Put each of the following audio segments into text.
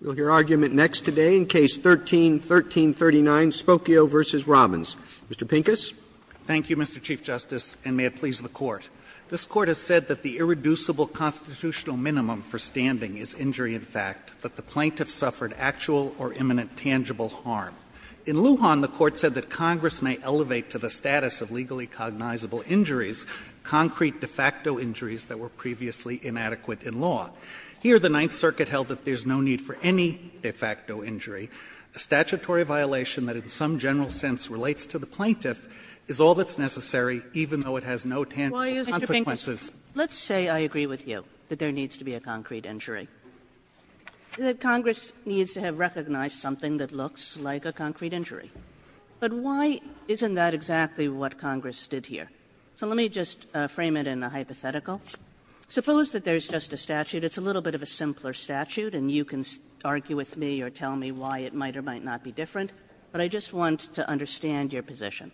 We will hear argument next today in Case 13-1339, Spokeo v. Robins. Mr. Pincus. Pincus, Thank you, Mr. Chief Justice, and may it please the Court. This Court has said that the irreducible constitutional minimum for standing is injury in fact, that the plaintiff suffered actual or imminent tangible harm. In Lujan, the Court said that Congress may elevate to the status of legally cognizable injuries concrete de facto injuries that were previously inadequate in law. Here, the Ninth Circuit held that there is no need for any de facto injury. A statutory violation that in some general sense relates to the plaintiff is all that's necessary, even though it has no tangible consequences. Kagan. Kagan. Mr. Pincus, let's say I agree with you that there needs to be a concrete injury. That Congress needs to have recognized something that looks like a concrete injury. But why isn't that exactly what Congress did here? So let me just frame it in a hypothetical. Suppose that there's just a statute. It's a little bit of a simpler statute, and you can argue with me or tell me why it might or might not be different, but I just want to understand your position.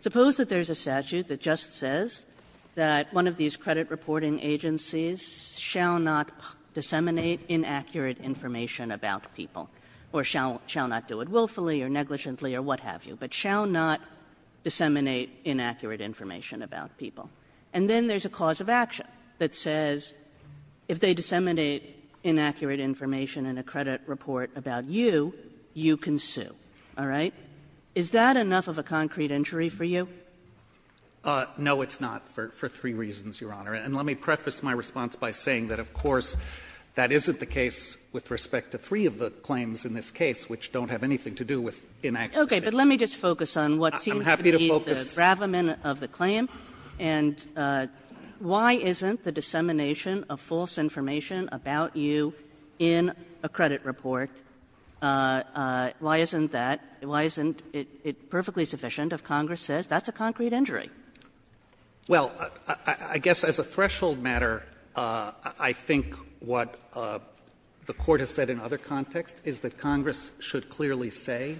Suppose that there's a statute that just says that one of these credit reporting agencies shall not disseminate inaccurate information about people, or shall not do it willfully or negligently or what have you, but shall not disseminate inaccurate information about people. And then there's a cause of action that says if they disseminate inaccurate information in a credit report about you, you can sue. All right? Is that enough of a concrete injury for you? Pincus. No, it's not, for three reasons, Your Honor. And let me preface my response by saying that, of course, that isn't the case with respect to three of the claims in this case, which don't have anything to do with inaccuracy. Okay. But let me just focus on what seems to be the bravament of the claim. And why isn't the dissemination of false information about you in a credit report why isn't that, why isn't it perfectly sufficient if Congress says that's a concrete injury? Well, I guess as a threshold matter, I think what the Court has said in other contexts is that Congress should clearly say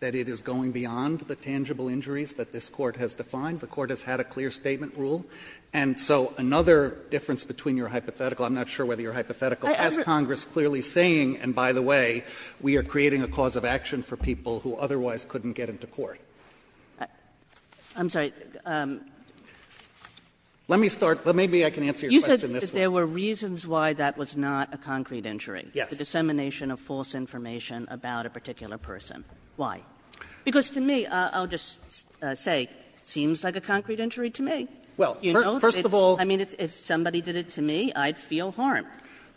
that it is going beyond the tangible injuries that this Court has defined. The Court has had a clear statement rule. And so another difference between your hypothetical, I'm not sure whether your hypothetical, as Congress clearly saying, and by the way, we are creating a cause of action for people who otherwise couldn't get into court. I'm sorry. Let me start. Maybe I can answer your question this way. You said that there were reasons why that was not a concrete injury. Yes. The dissemination of false information about a particular person. Why? Because to me, I'll just say, seems like a concrete injury to me. Well, first of all. I mean, if somebody did it to me, I'd feel harmed.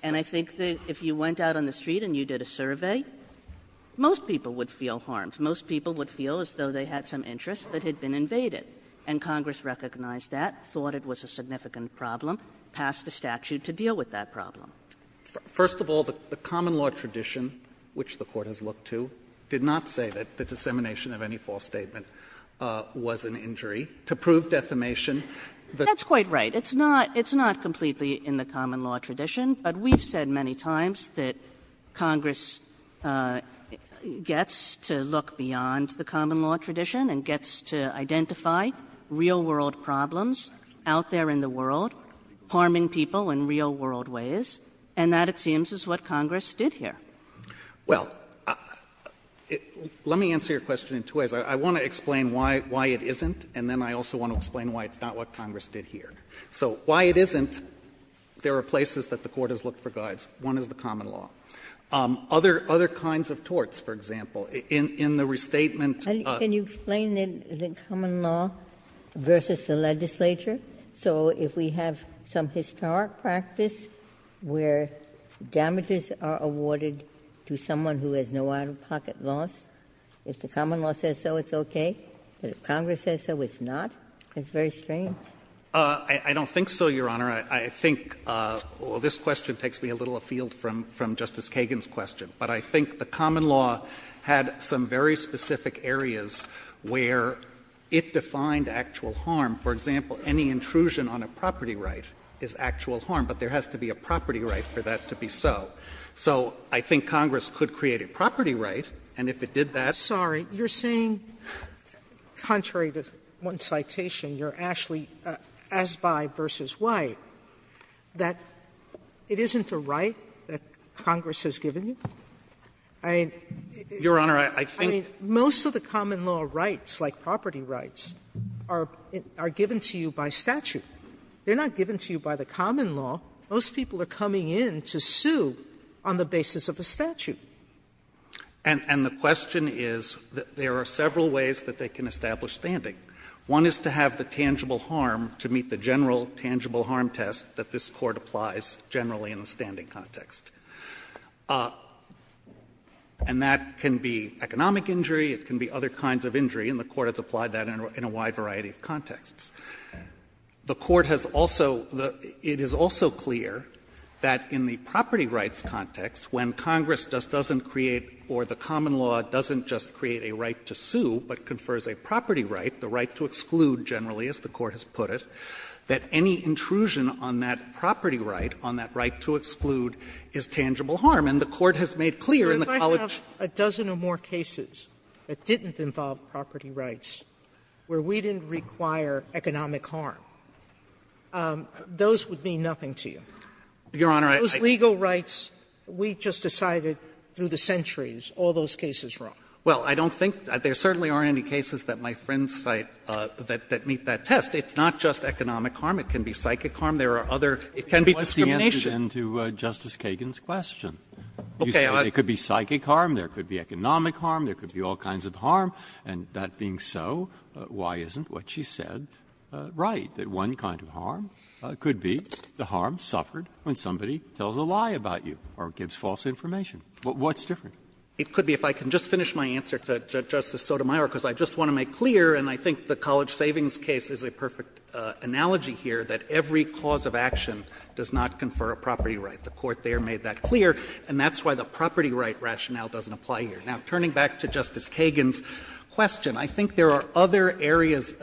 And I think that if you went out on the street and you did a survey, most people would feel harmed. Most people would feel as though they had some interests that had been invaded. And Congress recognized that, thought it was a significant problem, passed a statute to deal with that problem. First of all, the common law tradition, which the Court has looked to, did not say that the dissemination of any false statement was an injury. To prove defamation, the Court said that the dissemination of any false statement was an injury. That's quite right. It's not completely in the common law tradition, but we've said many times that Congress gets to look beyond the common law tradition and gets to identify real world problems out there in the world, harming people in real world ways. And that, it seems, is what Congress did here. Well, let me answer your question in two ways. I want to explain why it isn't, and then I also want to explain why it's not what Congress did here. So why it isn't, there are places that the Court has looked for guides. One is the common law. Other kinds of torts, for example, in the restatement of the common law versus the legislature. So if we have some historic practice where damages are awarded to someone who has no out-of-pocket loss, if the common law says so, it's okay. But if Congress says so, it's not. It's very strange. I don't think so, Your Honor. I think this question takes me a little afield from Justice Kagan's question. But I think the common law had some very specific areas where it defined actual harm. For example, any intrusion on a property right is actual harm, but there has to be a property right for that to be so. So I think Congress could create a property right, and if it did that that's what it would do. Sotomayor, you're saying, contrary to one citation, you're actually, as by versus why, that it isn't a right that Congress has given you? I mean, I think most of the common law rights, like property rights, are given by Congress and are given to you by statute. They're not given to you by the common law. Most people are coming in to sue on the basis of a statute. And the question is that there are several ways that they can establish standing. One is to have the tangible harm to meet the general tangible harm test that this Court applies generally in a standing context. And that can be economic injury. It can be other kinds of injury. And the Court has applied that in a wide variety of contexts. The Court has also the – it is also clear that in the property rights context, when Congress just doesn't create or the common law doesn't just create a right to sue but confers a property right, the right to exclude generally, as the Court has put it, that any intrusion on that property right, on that right to exclude, is tangible harm. And the Court has made clear in the College of Justice that it's not a tangible harm in the property rights where we didn't require economic harm. Those would mean nothing to you. Feigin. Your Honor, I – Those legal rights, we just decided through the centuries all those cases wrong. Well, I don't think there certainly are any cases that my friends cite that meet that test. It's not just economic harm. It can be psychic harm. There are other – it can be discrimination. It's the answer to Justice Kagan's question. Okay, I – You said it could be psychic harm, there could be economic harm, there could be all kinds of harm, and that being so, why isn't what she said right? That one kind of harm could be the harm suffered when somebody tells a lie about you or gives false information. What's different? It could be, if I can just finish my answer to Justice Sotomayor, because I just want to make clear, and I think the College Savings case is a perfect analogy here, that every cause of action does not confer a property right. The Court there made that clear, and that's why the property right rationale doesn't apply here. Now, turning back to Justice Kagan's question, I think there are other areas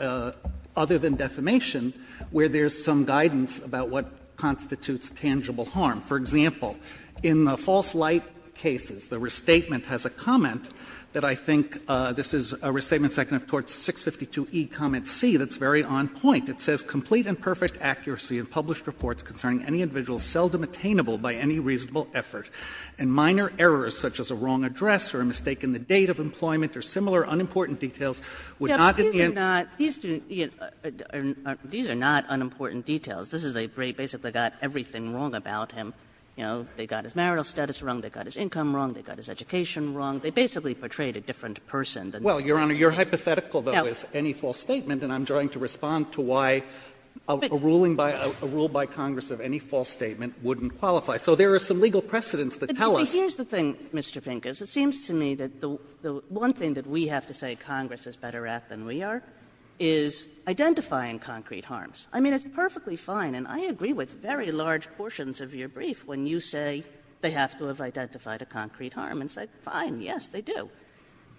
other than defamation where there's some guidance about what constitutes tangible harm. For example, in the false light cases, the Restatement has a comment that I think this is a Restatement seconded towards 652e, comment C, that's very on point. It says, ''Complete and perfect accuracy in published reports concerning any individual seldom attainable by any reasonable effort, and minor errors such as a wrong address or a mistake in the date of employment or similar unimportant details would not at the end'' Kagan These are not unimportant details. This is a great ''basically got everything wrong about him.'' You know, they got his marital status wrong, they got his income wrong, they got his education wrong. They basically portrayed a different person than the other. Pincus Well, Your Honor, your hypothetical, though, is any false statement, and I'm trying to respond to why a ruling by a rule by Congress of any false statement wouldn't qualify. So there are some legal precedents that tell us. Here's the thing, Mr. Pincus, it seems to me that the one thing that we have to say Congress is better at than we are, is identifying concrete harms. I mean, it's perfectly fine, and I agree with very large portions of your brief when you say they have to have identified a concrete harm, and it's like, fine, yes, they do.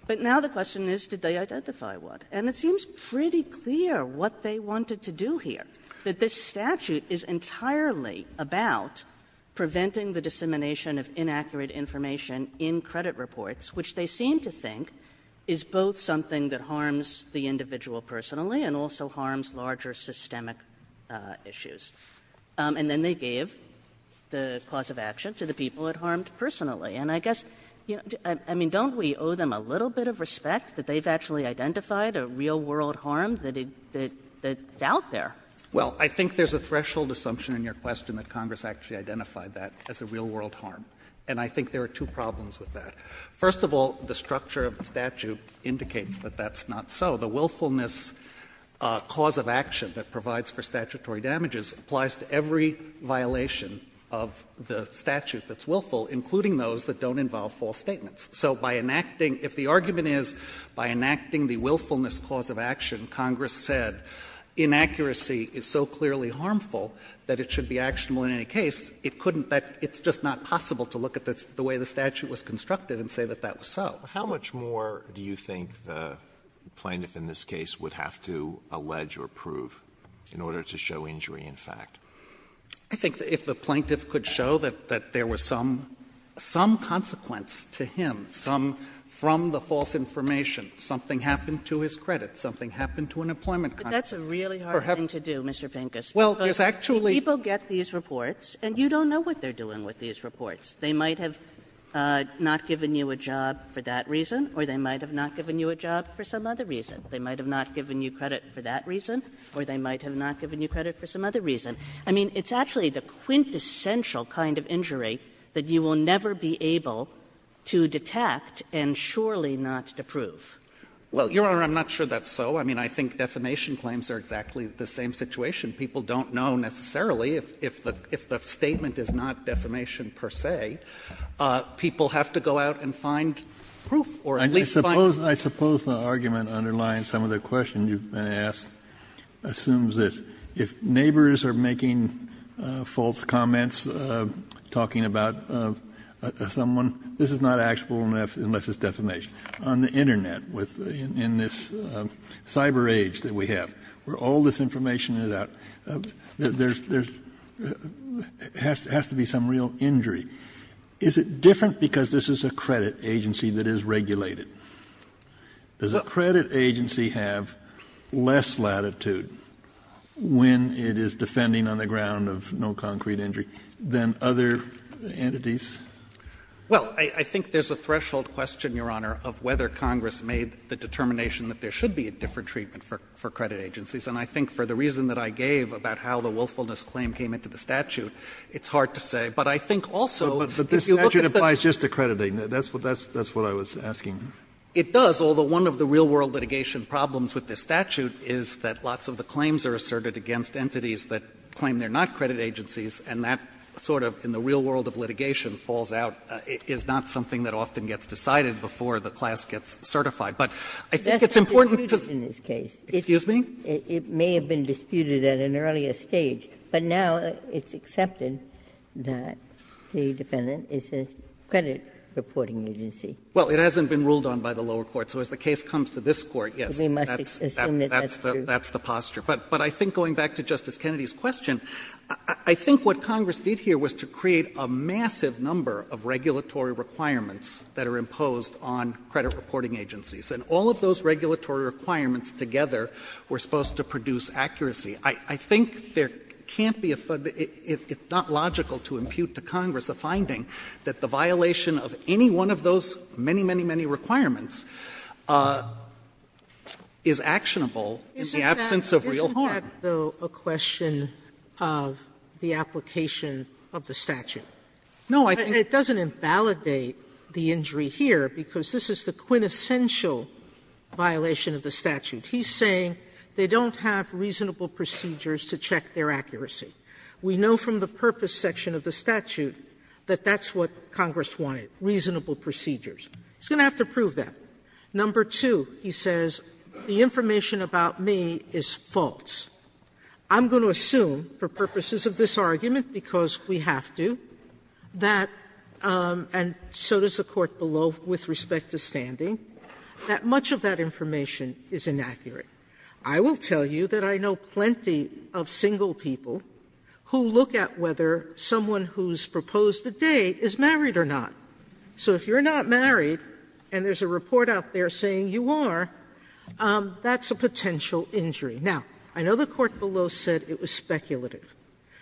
But now the question is, did they identify one? And it seems pretty clear what they wanted to do here, that this statute is entirely about preventing the dissemination of inaccurate information in credit reports, which they seem to think is both something that harms the individual personally and also harms larger systemic issues. And then they gave the cause of action to the people it harmed personally. And I guess, I mean, don't we owe them a little bit of respect that they've actually identified a real-world harm that's out there? Pincus, well, I think there's a threshold assumption in your question that Congress actually identified that as a real-world harm, and I think there are two problems with that. First of all, the structure of the statute indicates that that's not so. The willfulness cause of action that provides for statutory damages applies to every violation of the statute that's willful, including those that don't involve false statements. So by enacting — if the argument is, by enacting the willfulness cause of action, Congress said inaccuracy is so clearly harmful that it should be actionable in any case, it couldn't — it's just not possible to look at the way the statute was constructed and say that that was so. Alito How much more do you think the plaintiff in this case would have to allege or prove in order to show injury in fact? Pincus I think if the plaintiff could show that there was some consequence to him, some from the false information, something happened to his credit, something happened to an employment contract. Kagan But that's a really hard thing to do, Mr. Pincus, because people get these reports and you don't know what they're doing with these reports. They might have not given you a job for that reason, or they might have not given you a job for some other reason. They might have not given you credit for that reason, or they might have not given you credit for some other reason. I mean, it's actually the quintessential kind of injury that you will never be able to detect and surely not to prove. Pincus Well, Your Honor, I'm not sure that's so. I mean, I think defamation claims are exactly the same situation. People don't know necessarily if the statement is not defamation per se. People have to go out and find proof or at least find proof. Kennedy I suppose the argument underlying some of the questions you've been asked assumes that it's not actionable unless it's defamation. On the Internet, in this cyber age that we have, where all this information is out, there has to be some real injury. Is it different because this is a credit agency that is regulated? Does a credit agency have less latitude when it is defending on the ground of no concrete injury than other entities? Pincus Well, I think there's a threshold question, Your Honor, of whether Congress made the determination that there should be a different treatment for credit agencies. And I think for the reason that I gave about how the willfulness claim came into the statute, it's hard to say. But I think also if you look at the ---- Kennedy But this statute applies just to crediting. That's what I was asking. Pincus It does, although one of the real world litigation problems with this statute is that lots of the claims are asserted against entities that claim they're not credit agencies, and that sort of, in the real world of litigation, falls out. It's not something that often gets decided before the class gets certified. But I think it's important to say ---- Ginsburg That's disputed in this case. Pincus Excuse me? Ginsburg It may have been disputed at an earlier stage, but now it's accepted that the defendant is a credit reporting agency. Pincus Well, it hasn't been ruled on by the lower court. So as the case comes to this Court, yes, that's the posture. But I think going back to Justice Kennedy's question, I think what Congress did here was to create a massive number of regulatory requirements that are imposed on credit reporting agencies. And all of those regulatory requirements together were supposed to produce accuracy. I think there can't be a ---- it's not logical to impute to Congress a finding that the violation of any one of those many, many, many requirements is actionable in the absence of reality. Sotomayor Isn't that, though, a question of the application of the statute? Pincus No, I think ---- Sotomayor And it doesn't invalidate the injury here, because this is the quintessential violation of the statute. He's saying they don't have reasonable procedures to check their accuracy. We know from the purpose section of the statute that that's what Congress wanted, reasonable procedures. He's going to have to prove that. Number two, he says, the information about me is false. I'm going to assume, for purposes of this argument, because we have to, that, and so does the Court below, with respect to standing, that much of that information is inaccurate. I will tell you that I know plenty of single people who look at whether someone who's proposed a date is married or not. So if you're not married and there's a report out there saying you are, that's a potential injury. Now, I know the Court below said it was speculative,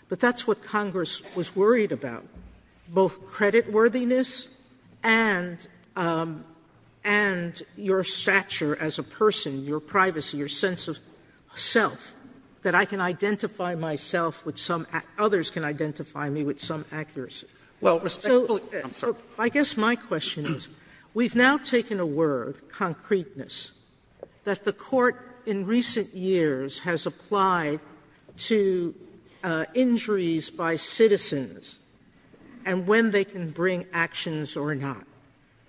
but that's what Congress was worried about, both creditworthiness and your stature as a person, your privacy, your sense of self, that I can identify myself with some ---- others can identify me with some accuracy. Well, respectfully, I'm sorry. Sotomayor, I guess my question is, we've now taken a word, concreteness, that the Court in recent years has applied to injuries by citizens and when they can bring actions or not.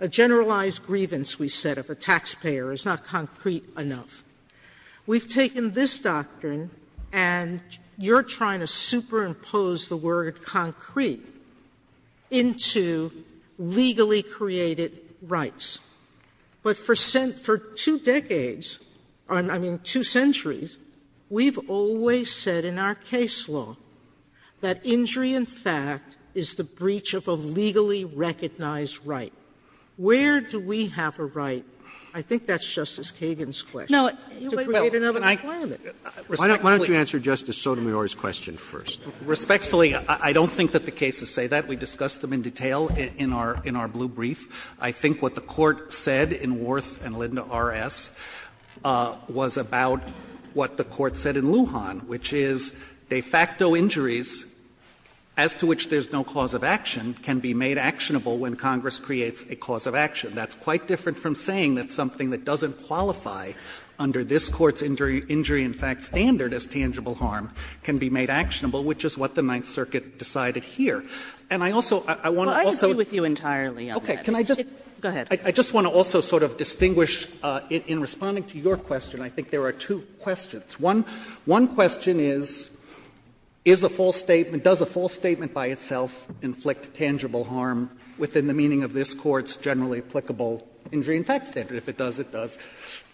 A generalized grievance, we said, of a taxpayer is not concrete enough. We've taken this doctrine, and you're trying to superimpose the word concrete into legally created rights. But for two decades, I mean, two centuries, we've always said in our case law that injury, in fact, is the breach of a legally recognized right. Where do we have a right? I think that's Justice Kagan's question, to create another requirement. Respectfully, I don't think that the case is concrete. I think that the court has a right to say that. We discussed them in detail in our blue brief. I think what the Court said in Warth and Linda R.S. was about what the Court said in Lujan, which is de facto injuries as to which there is no cause of action can be made actionable when Congress creates a cause of action. That's quite different from saying that something that doesn't qualify under this Court's injury, in fact, standard as tangible harm can be made actionable, which is what the Ninth Circuit decided here. And I also want to also — Kagan. Well, I agree with you entirely on that. Go ahead. I just want to also sort of distinguish, in responding to your question, I think there are two questions. One question is, is a false statement, does a false statement by itself inflict tangible harm within the meaning of this Court's generally applicable injury in fact standard? If it does, it does.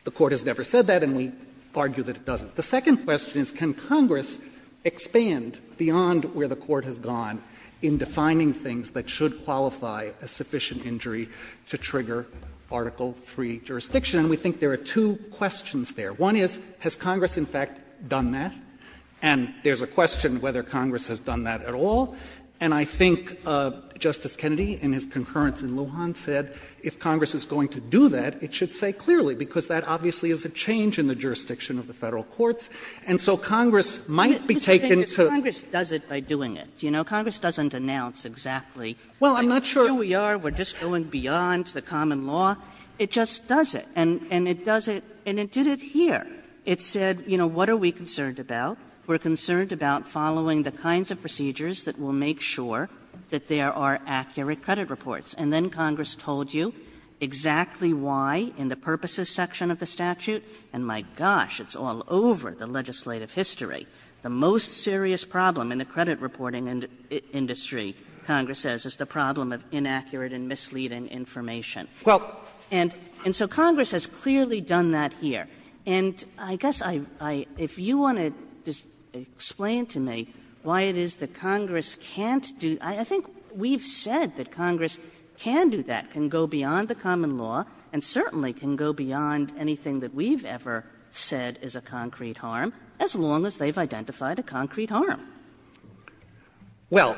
The Court has never said that, and we argue that it doesn't. The second question is, can Congress expand beyond where the Court has gone in defining things that should qualify a sufficient injury to trigger Article III jurisdiction? And we think there are two questions there. One is, has Congress in fact done that? And there's a question whether Congress has done that at all. And I think Justice Kennedy in his concurrence in Lujan said if Congress is going to do that, it should say clearly, because that obviously is a change in the jurisdiction of the Federal courts, and so Congress might be taken to the other side of the law. Kagan Congress does it by doing it, you know. Congress doesn't announce exactly where we are, we're just going beyond the common law. It just does it. And it does it, and it did it here. It said, you know, what are we concerned about? We're concerned about following the kinds of procedures that will make sure that there are accurate credit reports. And then Congress told you exactly why in the purposes section of the statute, and my gosh, it's all over the legislative history, the most serious problem in the credit reporting industry, Congress says, is the problem of inaccurate and misleading information. And so Congress has clearly done that here. And I guess I — if you want to explain to me why it is that Congress can't do — I think we've said that Congress can do that, can go beyond the common law, and certainly can go beyond anything that we've ever said is a concrete harm, as long as they've identified a concrete harm. Well,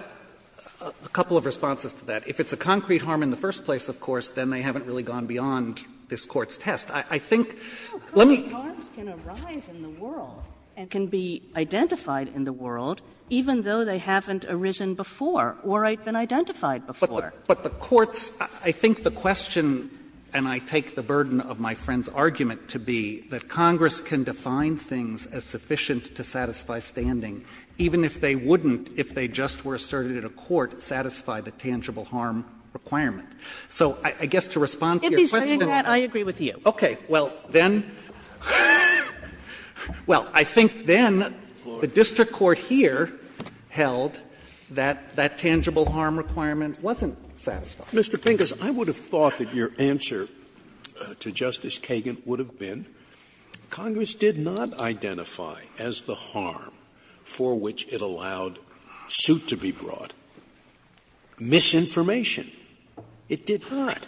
a couple of responses to that. If it's a concrete harm in the first place, of course, then they haven't really gone beyond this Court's test. I think — let me — No, concrete harms can arise in the world and can be identified in the world, even though they haven't arisen before or been identified before. But the Court's — I think the question, and I take the burden of my friend's argument to be that Congress can define things as sufficient to satisfy standing, even if they wouldn't, if they just were asserted in a court, satisfy the tangible harm requirement. So I guess to respond to your question and to my point. If he's saying that, I agree with you. Okay. Well, then — well, I think then the district court here held that that tangible harm requirement wasn't satisfied. Mr. Pincus, I would have thought that your answer to Justice Kagan would have been Congress did not identify as the harm for which it allowed suit to be brought misinformation. It did not.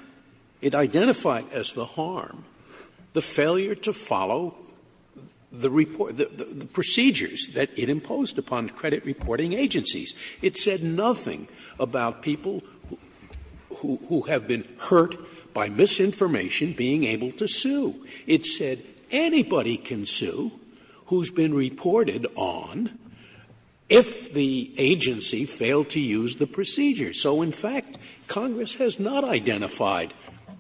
It identified as the harm the failure to follow the report — the procedures that it imposed upon credit reporting agencies. It said nothing about people who have been hurt by misinformation being able to sue. It said anybody can sue who's been reported on if the agency failed to use the procedure. So, in fact, Congress has not identified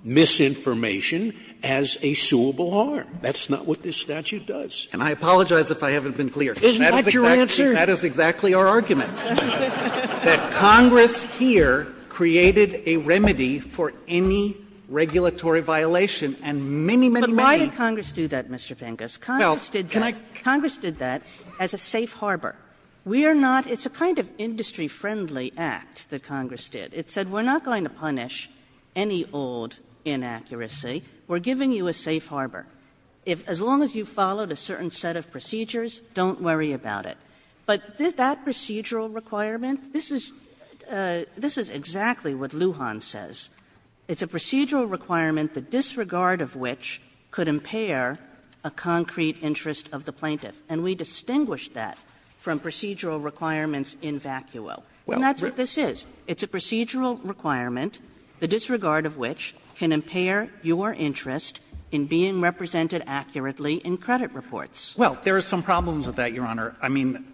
misinformation as a suable harm. That's not what this statute does. And I apologize if I haven't been clear. Isn't that your answer? That is exactly our argument. That Congress here created a remedy for any regulatory violation, and many, many, many— But why did Congress do that, Mr. Pincus? Congress did that as a safe harbor. We are not — it's a kind of industry-friendly act that Congress did. It said we're not going to punish any old inaccuracy. We're giving you a safe harbor. If — as long as you followed a certain set of procedures, don't worry about it. But that procedural requirement, this is — this is exactly what Lujan says. It's a procedural requirement, the disregard of which could impair a concrete interest of the plaintiff. And we distinguish that from procedural requirements in vacuo. And that's what this is. It's a procedural requirement, the disregard of which can impair your interest in being represented accurately in credit reports. Well, there are some problems with that, Your Honor. I mean,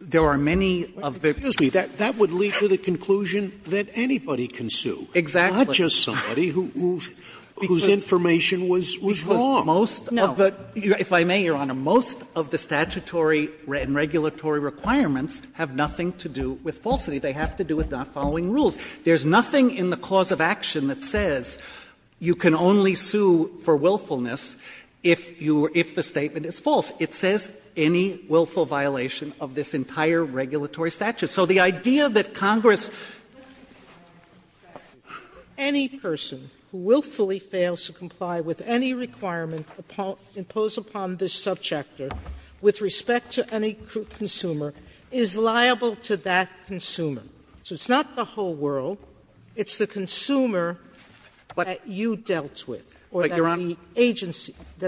there are many of the — But, excuse me, that would lead to the conclusion that anybody can sue. Exactly. Not just somebody whose information was wrong. Because most of the — if I may, Your Honor, most of the statutory and regulatory requirements have nothing to do with falsity. They have to do with not following rules. There's nothing in the cause of action that says you can only sue for willfulness if the statement is false. It says, any willful violation of this entire regulatory statute. So the idea that Congress — Any person who willfully fails to comply with any requirement imposed upon this subchapter with respect to any consumer is liable to that consumer. So it's not the whole world, it's the consumer that you dealt with or that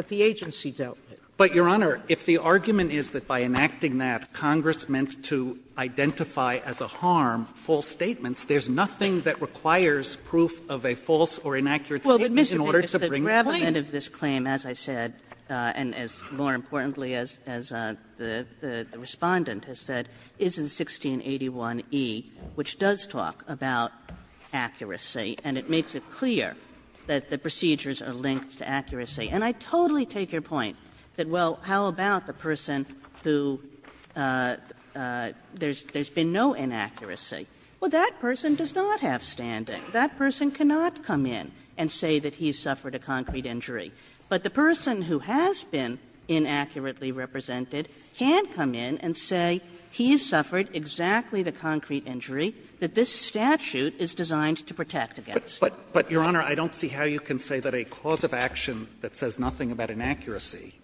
the agency dealt with. But, Your Honor, if the argument is that by enacting that, Congress meant to identify as a harm false statements, there's nothing that requires proof of a false or inaccurate statement in order to bring the claim. Well, but, Mr. Pincus, the gravamen of this claim, as I said, and as more importantly as the Respondent has said, is in 1681e, which does talk about accuracy, and it makes it clear that the procedures are linked to accuracy. And I totally take your point that, well, how about the person who — there's been no inaccuracy. Well, that person does not have standing. That person cannot come in and say that he suffered a concrete injury. But the person who has been inaccurately represented can come in and say he suffered exactly the concrete injury that this statute is designed to protect against. But, Your Honor, I don't see how you can say that a cause of action that says nothing about inaccuracy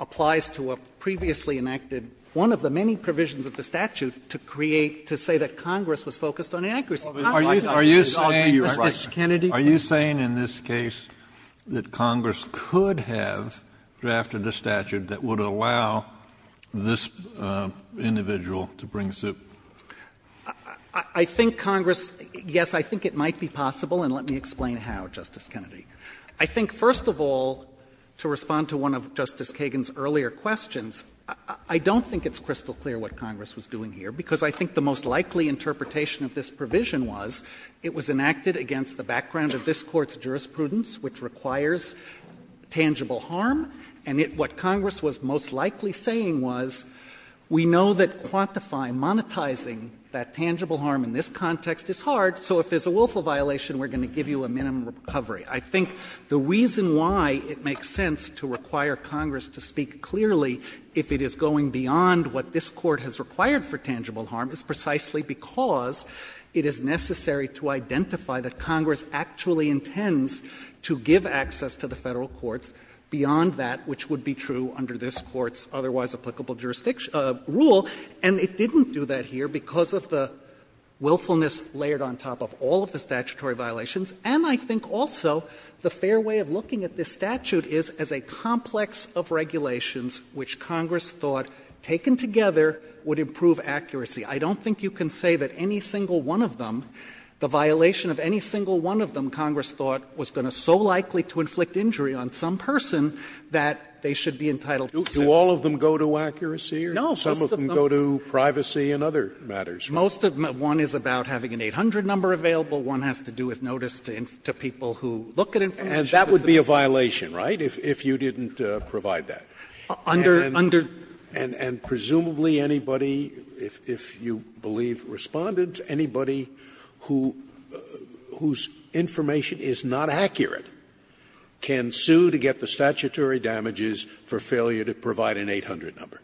applies to a previously enacted — one of the many provisions of the statute to create, to say that Congress was focused on inaccuracy. Kennedy, are you saying in this case that Congress could have drafted a statute that would allow this individual to bring suit? I think Congress — yes, I think it might be possible, and let me explain how, Justice Kennedy. I think, first of all, to respond to one of Justice Kagan's earlier questions, I don't think it's crystal clear what Congress was doing here, because I think the most likely interpretation of this provision was it was enacted against the background of this Court's jurisprudence, which requires tangible harm. And what Congress was most likely saying was, we know that quantifying, monetizing that tangible harm in this context is hard, so if there's a willful violation, we're going to give you a minimum recovery. I think the reason why it makes sense to require Congress to speak clearly if it is going beyond what this Court has required for tangible harm is precisely because it is necessary to identify that Congress actually intends to give access to the Federal courts beyond that which would be true under this Court's otherwise applicable jurisdiction — rule. And it didn't do that here because of the willfulness layered on top of all of the statutory violations, and I think also the fair way of looking at this statute is as a complex of regulations which Congress thought, taken together, would improve accuracy. I don't think you can say that any single one of them, the violation of any single one of them, Congress thought was going to so likely to inflict injury on some person that they should be entitled to say. Scalia. Do all of them go to accuracy or some of them go to privacy and other matters? Most of them. One is about having an 800 number available. One has to do with notice to people who look at information. And that would be a violation, right, if you didn't provide that? Under — under. And presumably anybody, if you believe Respondent, anybody who — whose information is not accurate can sue to get the statutory damages for failure to provide an 800 number.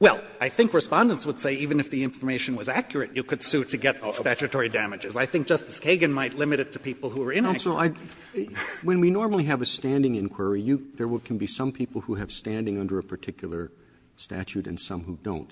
Well, I think Respondent would say even if the information was accurate, you could sue to get statutory damages. I think Justice Kagan might limit it to people who are inaccurate. When we normally have a standing inquiry, there can be some people who have standing under a particular statute and some who don't.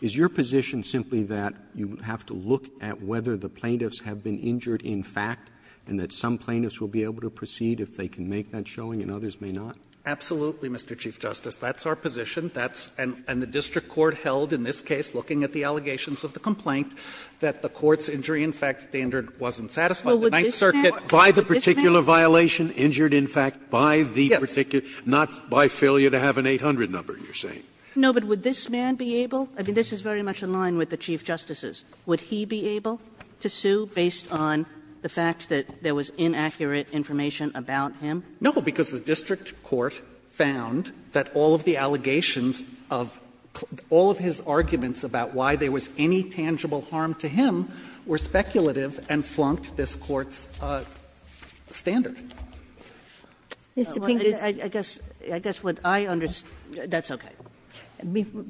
Is your position simply that you have to look at whether the plaintiffs have been injured in fact and that some plaintiffs will be able to proceed if they can make that showing and others may not? Absolutely, Mr. Chief Justice. That's our position. That's — and the district court held in this case, looking at the allegations of the complaint, that the court's injury in fact standard wasn't satisfied. The Ninth Circuit by the particular violation, injured in fact by the particular violation, not by failure to have an 800 number, you're saying. No, but would this man be able — I mean, this is very much in line with the Chief Justice's. Would he be able to sue based on the fact that there was inaccurate information about him? No, because the district court found that all of the allegations of all of his arguments about why there was any tangible harm to him were speculative and flunked this court's standard. Mr. Pinker. I guess what I understand — That's okay.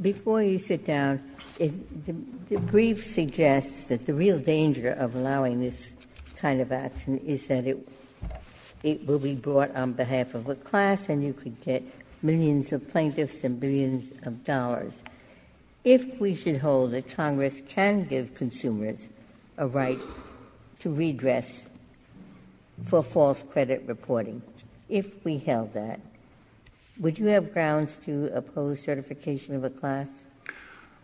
Before you sit down, the brief suggests that the real danger of allowing this kind of action is that it will be brought on behalf of a class and you could get millions of plaintiffs and billions of dollars. If we should hold that Congress can give consumers a right to redress for false credit reporting, if we held that, would you have grounds to oppose certification of a class?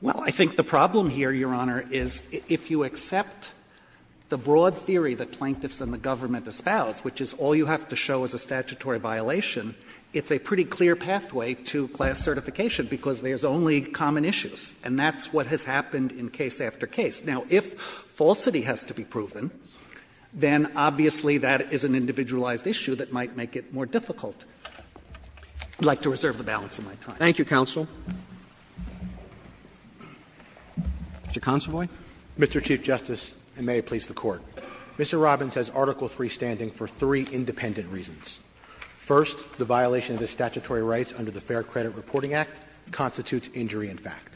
Well, I think the problem here, Your Honor, is if you accept the broad theory that plaintiffs and the government espouse, which is all you have to show is a statutory violation, it's a pretty clear pathway to class certification because there's only common issues. And that's what has happened in case after case. Now, if falsity has to be proven, then obviously that is an individualized issue that might make it more difficult. I would like to reserve the balance of my time. Thank you, counsel. Mr. Consovoy. Mr. Chief Justice, and may it please the Court. Mr. Robbins has Article III standing for three independent reasons. First, the violation of the statutory rights under the Fair Credit Reporting Act constitutes injury in fact.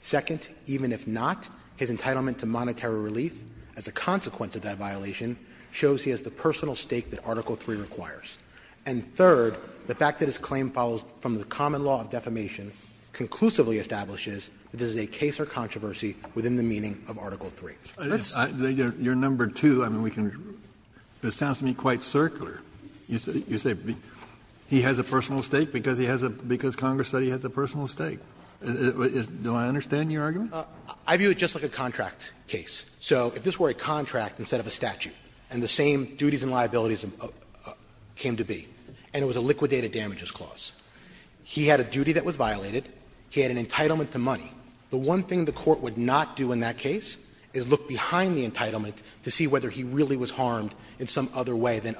Second, even if not, his entitlement to monetary relief as a consequence of that violation shows he has the personal stake that Article III requires. And third, the fact that his claim follows from the common law of defamation conclusively establishes that this is a case or controversy within the meaning of Article III. Kennedy, your number two, I mean, we can – it sounds to me quite circular. You say he has a personal stake because he has a – because Congress said he has a personal stake. Do I understand your argument? I view it just like a contract case. So if this were a contract instead of a statute, and the same duties and liabilities came to be, and it was a liquidated damages clause, he had a duty that was violated, he had an entitlement to money. The one thing the Court would not do in that case is look behind the entitlement to see whether he really was harmed in some other way than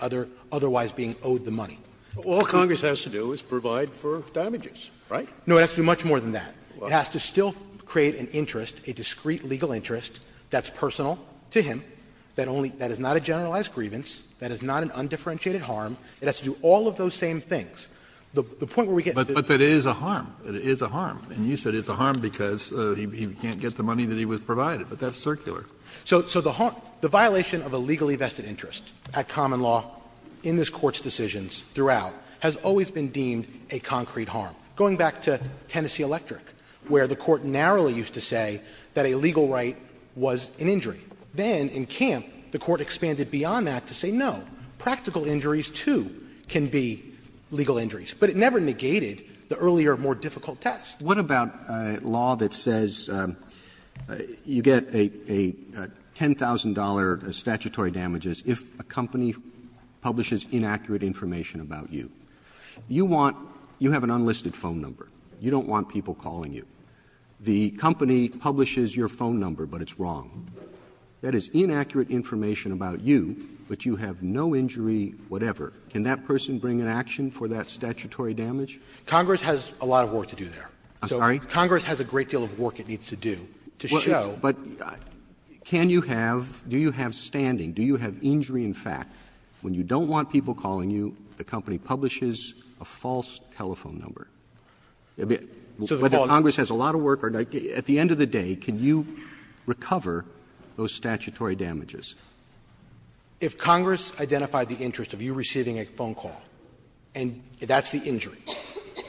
otherwise being owed the money. All Congress has to do is provide for damages, right? No, it has to do much more than that. It has to still create an interest, a discreet legal interest that's personal to him, that only – that is not a generalized grievance, that is not an undifferentiated harm, it has to do all of those same things. The point where we get to the – But that it is a harm. It is a harm. And you said it's a harm because he can't get the money that he was provided. But that's circular. So the violation of a legally vested interest at common law in this Court's decisions throughout has always been deemed a concrete harm. Going back to Tennessee Electric, where the Court narrowly used to say that a legal right was an injury. Then in Camp, the Court expanded beyond that to say, no, practical injuries, too, can be legal injuries. But it never negated the earlier, more difficult test. Roberts. What about a law that says you get a $10,000 statutory damages if a company publishes inaccurate information about you? You want – you have an unlisted phone number. You don't want people calling you. The company publishes your phone number, but it's wrong. That is inaccurate information about you, but you have no injury whatever. Can that person bring an action for that statutory damage? Congress has a lot of work to do there. I'm sorry? Congress has a great deal of work it needs to do to show. But can you have – do you have standing? Do you have injury in fact? When you don't want people calling you, the company publishes a false telephone number. Whether Congress has a lot of work or not, at the end of the day, can you recover those statutory damages? If Congress identified the interest of you receiving a phone call, and that's the injury,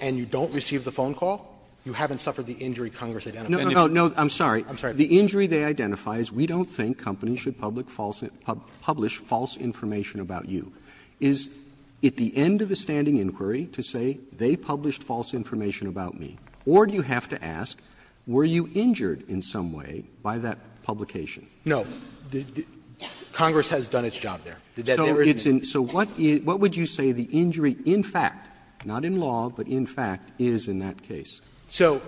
and you don't receive the phone call, you haven't suffered the injury Congress identified. No, no, no. I'm sorry. I'm sorry. Roberts, I realize we don't think companies should publish false information about you. Is it the end of the standing inquiry to say they published false information about me? Or do you have to ask, were you injured in some way by that publication? No. Congress has done its job there. So what would you say the injury in fact, not in law, but in fact, is in that case? So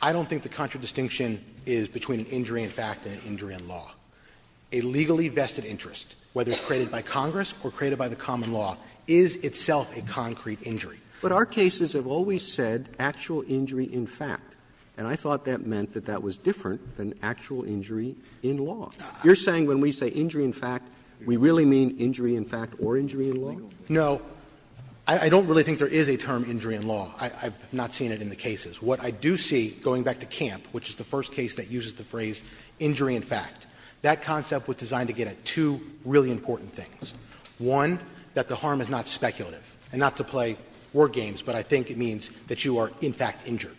I don't think the contra distinction is between injury in fact and injury in law. A legally vested interest, whether it's created by Congress or created by the common law, is itself a concrete injury. But our cases have always said actual injury in fact, and I thought that meant that that was different than actual injury in law. You're saying when we say injury in fact, we really mean injury in fact or injury in law? No. I don't really think there is a term injury in law. I've not seen it in the cases. What I do see, going back to Camp, which is the first case that uses the phrase injury in fact, that concept was designed to get at two really important things. One, that the harm is not speculative, and not to play war games, but I think it means that you are in fact injured,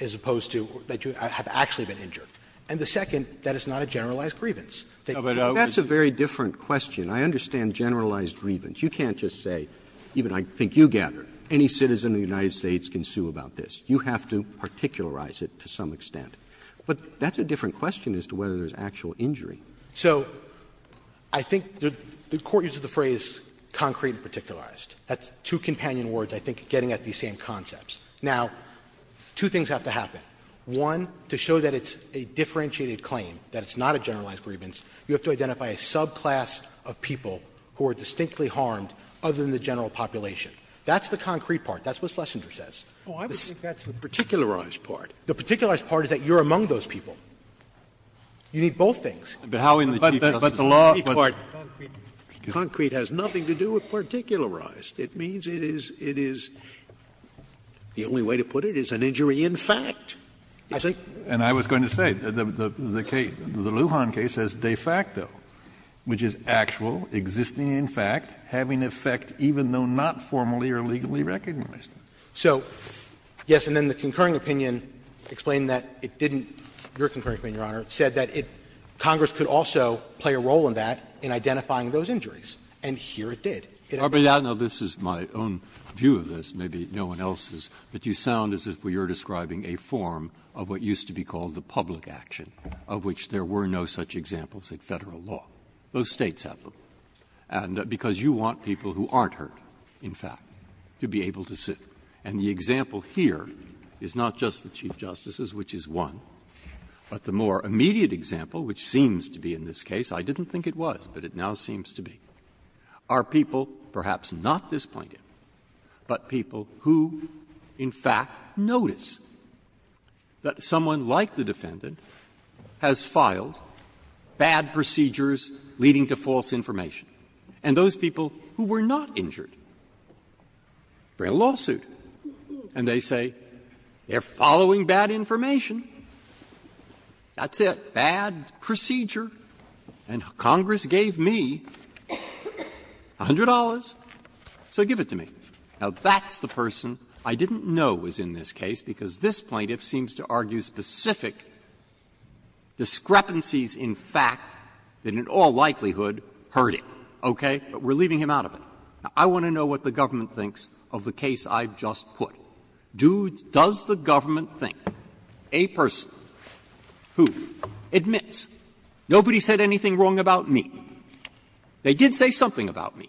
as opposed to that you have actually been injured. And the second, that it's not a generalized grievance. Roberts, that's a very different question. I understand generalized grievance. You can't just say, even I think you gather, any citizen of the United States can sue about this. You have to particularize it to some extent. But that's a different question as to whether there's actual injury. So I think the Court uses the phrase concrete and particularized. That's two companion words, I think, getting at these same concepts. Now, two things have to happen. One, to show that it's a differentiated claim, that it's not a generalized grievance, you have to identify a subclass of people who are distinctly harmed other than the general population. That's the concrete part. That's what Schlesinger says. Scalia, I would think that's the particularized part. Roberts, the particularized part is that you are among those people. You need both things. Kennedy, but how in the Chief Justice's concrete part? Scalia, concrete has nothing to do with particularized. It means it is the only way to put it is an injury in fact. And I was going to say, the Lujan case says de facto, which is actual, existing in fact, having effect even though not formally or legally recognized. So, yes, and then the concurring opinion explained that it didn't – your concurring opinion, Your Honor – said that Congress could also play a role in that in identifying those injuries. And here it did. Breyer, this is my own view of this, maybe no one else's, but you sound as if we are describing a form of what used to be called the public action, of which there were no such examples in Federal law. Those States have them. And because you want people who aren't hurt, in fact, to be able to sit. And the example here is not just the Chief Justice's, which is one, but the more immediate example, which seems to be in this case, I didn't think it was, but it now seems to be, are people, perhaps not this plaintiff, but people who in fact notice that someone like the defendant has filed bad procedures leading to false information. And those people who were not injured bring a lawsuit, and they say, they are following bad information, that's it, bad procedure, and Congress gave me $100, so give it to me. Now, that's the person I didn't know was in this case, because this plaintiff seems to argue specific discrepancies in fact that in all likelihood hurt him, okay? But we are leaving him out of it. Now, I want to know what the government thinks of the case I've just put. Does the government think a person who admits nobody said anything wrong about me, they did say something about me,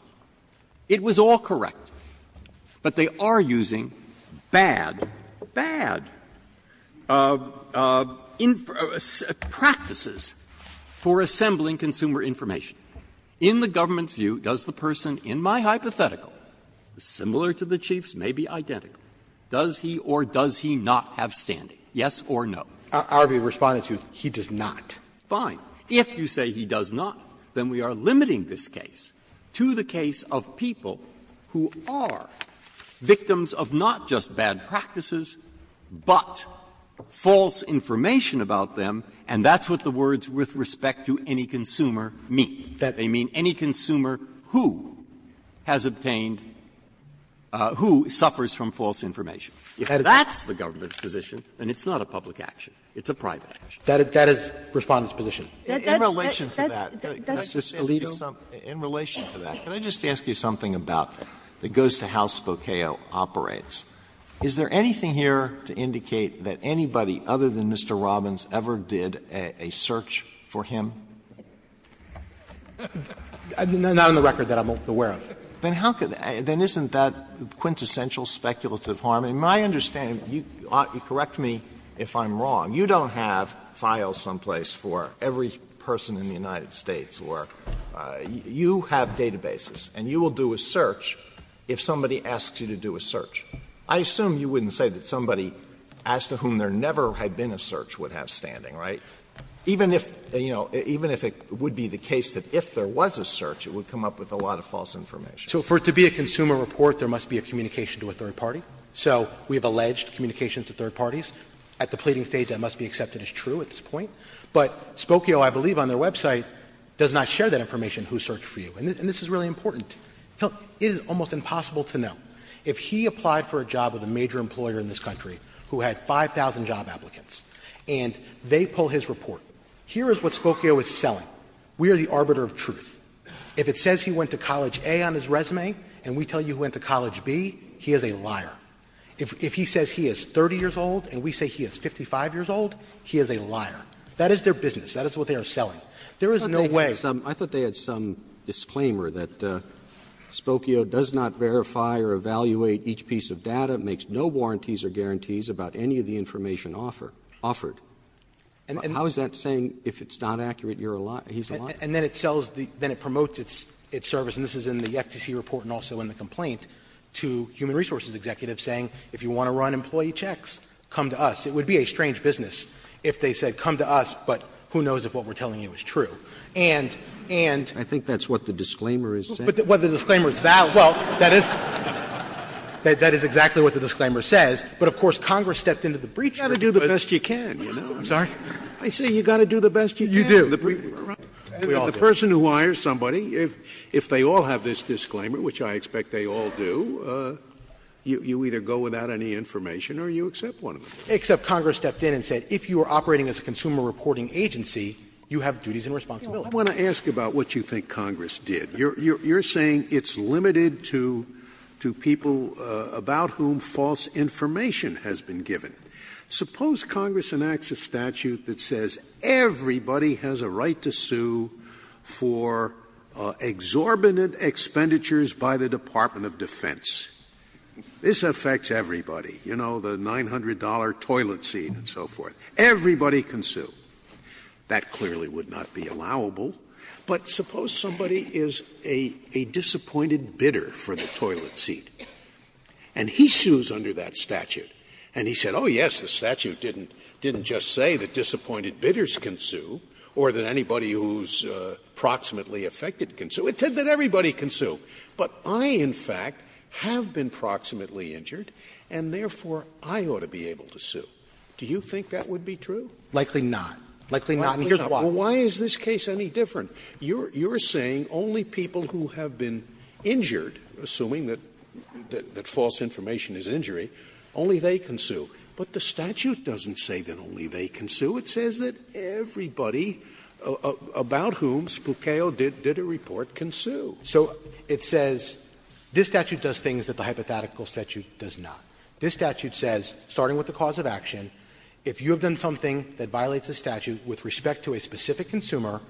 it was all correct. But they are using bad, bad practices for assembling consumer information. In the government's view, does the person in my hypothetical, similar to the Chief's, maybe identical, does he or does he not have standing, yes or no? Roberts, he responded to, he does not. Fine. If you say he does not, then we are limiting this case to the case of people who are victims of not just bad practices, but false information about them, and that's what the words with respect to any consumer mean. They mean any consumer who has obtained, who suffers from false information. If that's the government's position, then it's not a public action. It's a private action. That is Respondent's position. Sotomayorer, that's just a legal. Alito. In relation to that, can I just ask you something about, that goes to how Spokaio operates. Is there anything here to indicate that anybody other than Mr. Robbins ever did a search for him? Not in the record that I'm aware of. Then how can, then isn't that quintessential speculative harm? And my understanding, you correct me if I'm wrong. You don't have files someplace for every person in the United States, or you have databases, and you will do a search if somebody asks you to do a search. I assume you wouldn't say that somebody as to whom there never had been a search would have standing, right? Even if, you know, even if it would be the case that if there was a search, it would come up with a lot of false information. So for it to be a consumer report, there must be a communication to a third party. So we have alleged communications to third parties. At the pleading stage, that must be accepted as true at this point. But Spokaio, I believe on their website, does not share that information, who searched for you. And this is really important. It is almost impossible to know. If he applied for a job with a major employer in this country who had 5,000 job applicants and they pull his report, here is what Spokaio is selling. We are the arbiter of truth. If it says he went to College A on his resume and we tell you he went to College B, he is a liar. If he says he is 30 years old and we say he is 55 years old, he is a liar. That is their business. That is what they are selling. There is no way. Roberts I thought they had some disclaimer that Spokaio does not verify or evaluate each piece of data, makes no warranties or guarantees about any of the information offered. How is that saying if it's not accurate, you're a liar, he's a liar? Verrilli, and then it sells the – then it promotes its service, and this is in the FTC report and also in the complaint. To human resources executives saying if you want to run employee checks, come to us. It would be a strange business if they said come to us, but who knows if what we are telling you is true. And, and ‑‑ Scalia I think that's what the disclaimer is saying. Verrilli, but the disclaimer is that ‑‑ well, that is exactly what the disclaimer says, but of course Congress stepped into the breacher. Scalia You got to do the best you can, you know. Verrilli, I'm sorry? Scalia I say you got to do the best you can. Scalia You do. The person who hires somebody, if they all have this disclaimer, which I expect they all do, you either go without any information or you accept one of them. Verrilli, except Congress stepped in and said if you are operating as a consumer reporting agency, you have duties and responsibilities. Scalia I want to ask about what you think Congress did. You're saying it's limited to people about whom false information has been given. Suppose Congress enacts a statute that says everybody has a right to sue for exorbitant expenditures by the Department of Defense. This affects everybody. You know, the $900 toilet seat and so forth. Everybody can sue. That clearly would not be allowable. But suppose somebody is a disappointed bidder for the toilet seat and he sues under that statute and he said, oh, yes, the statute didn't just say that disappointed bidders can sue or that anybody who is proximately affected can sue. It said that everybody can sue. But I, in fact, have been proximately injured and therefore I ought to be able to sue. Do you think that would be true? Verrilli, likely not. Likely not. And here's why. Scalia Well, why is this case any different? You're saying only people who have been injured, assuming that false information But the statute doesn't say that only they can sue. It says that everybody about whom Spuccoo did a report can sue. Verrilli, So it says this statute does things that the hypothetical statute does not. This statute says, starting with the cause of action, if you have done something that violates the statute with respect to a specific consumer,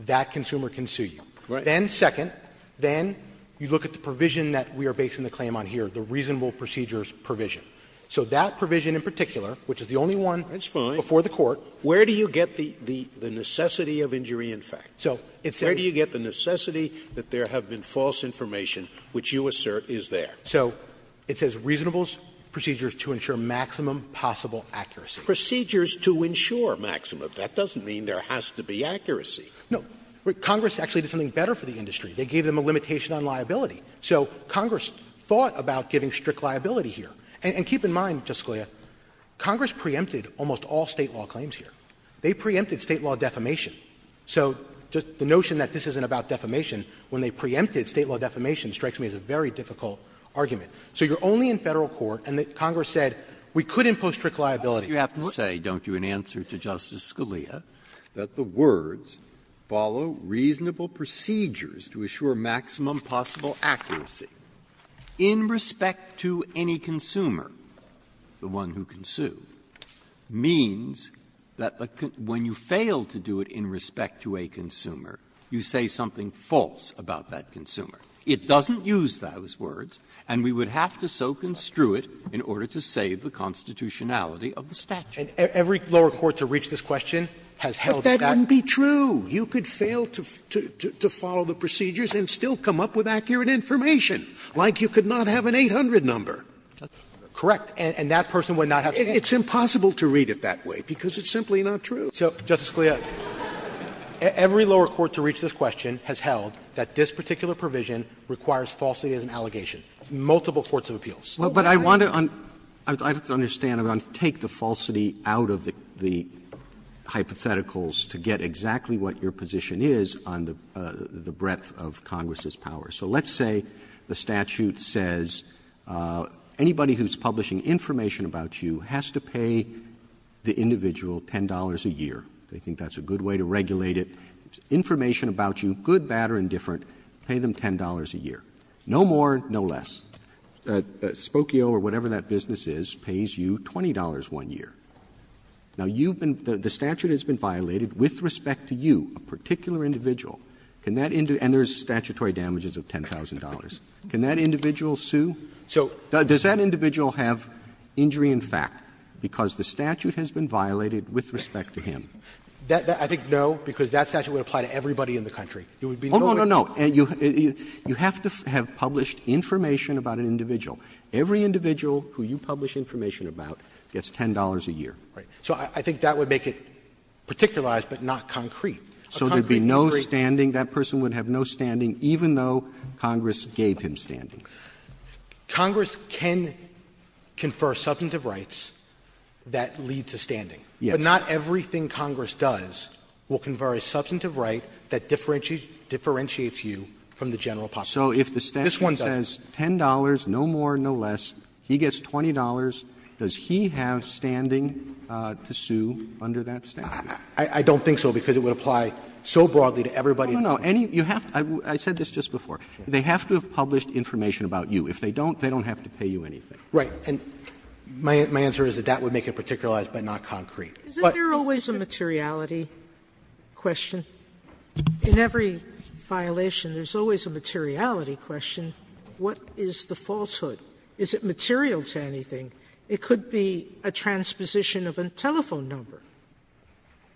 that consumer can sue you. Scalia Right. Verrilli, Then, second, then you look at the provision that we are basing the claim on here, the reasonable procedures provision. So that provision in particular, which is the only one before the Court, which is reasonable. Scalia So where do you get the necessity of injury in fact? Where do you get the necessity that there have been false information which you assert is there? Verrilli, So it says reasonable procedures to ensure maximum possible accuracy. Scalia Procedures to ensure maximum. That doesn't mean there has to be accuracy. Verrilli, No. Congress actually did something better for the industry. They gave them a limitation on liability. So Congress thought about giving strict liability here. And keep in mind, Justice Scalia, Congress preempted almost all State law claims here. They preempted State law defamation. So the notion that this isn't about defamation, when they preempted State law defamation, strikes me as a very difficult argument. So you are only in Federal court, and Congress said we could impose strict liability. Breyer Why don't you have to say, don't you, in answer to Justice Scalia, that the words follow reasonable procedures to assure maximum possible accuracy in respect to any consumer, the one who consumed, means that when you fail to do it in respect to a consumer, you say something false about that consumer. It doesn't use those words, and we would have to so construe it in order to save the constitutionality of the statute. Verrilli, And every lower court to reach this question has held that back. Scalia But that wouldn't be true. You could fail to follow the procedures and still come up with accurate information, like you could not have an 800 number. Verrilli, Correct. And that person would not have to say. Scalia It's impossible to read it that way, because it's simply not true. Verrilli, So, Justice Scalia, every lower court to reach this question has held that this particular provision requires falsity as an allegation, multiple courts of appeals. Roberts But I want to understand, I want to take the falsity out of the hypotheticals to get exactly what your position is on the breadth of Congress's power. So let's say the statute says anybody who's publishing information about you has to pay the individual $10 a year. They think that's a good way to regulate it. Information about you, good, bad or indifferent, pay them $10 a year. No more, no less. Spokio or whatever that business is pays you $20 one year. Now, you've been the statute has been violated with respect to you, a particular individual, and there's statutory damages of $10,000, can that individual sue? Does that individual have injury in fact because the statute has been violated with respect to him? Verrilli, I think no, because that statute would apply to everybody in the country. It would be no way. Spokio Oh, no, no, no. You have to have published information about an individual. Every individual who you publish information about gets $10 a year. Verrilli, So I think that would make it particularized but not concrete. So there'd be no standing, that person would have no standing even though Congress gave him standing. Spokio Congress can confer substantive rights that lead to standing. Verrilli, Yes. Spokio But not everything Congress does will confer a substantive right that differentiates you from the general public. Verrilli, So if the statute says $10, no more, no less, he gets $20, does he have standing to sue under that statute? I don't think so, because it would apply so broadly to everybody. Spokio No, no, no. You have to – I said this just before. They have to have published information about you. If they don't, they don't have to pay you anything. Verrilli, Right. And my answer is that that would make it particularized but not concrete. Sotomayor Is there always a materiality question? In every violation, there's always a materiality question. What is the falsehood? Is it material to anything? It could be a transposition of a telephone number.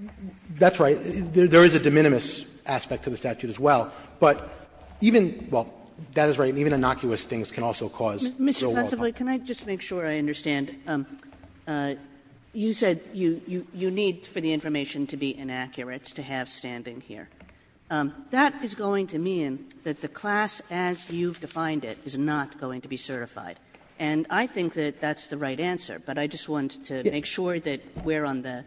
Verrilli, That's right. There is a de minimis aspect to the statute as well. But even – well, that is right. Even innocuous things can also cause real world harm. Kagan Mr. Pensivly, can I just make sure I understand? You said you need for the information to be inaccurate to have standing here. That is going to mean that the class as you've defined it is not going to be certified. And I think that that's the right answer, but I just wanted to make sure that we're on the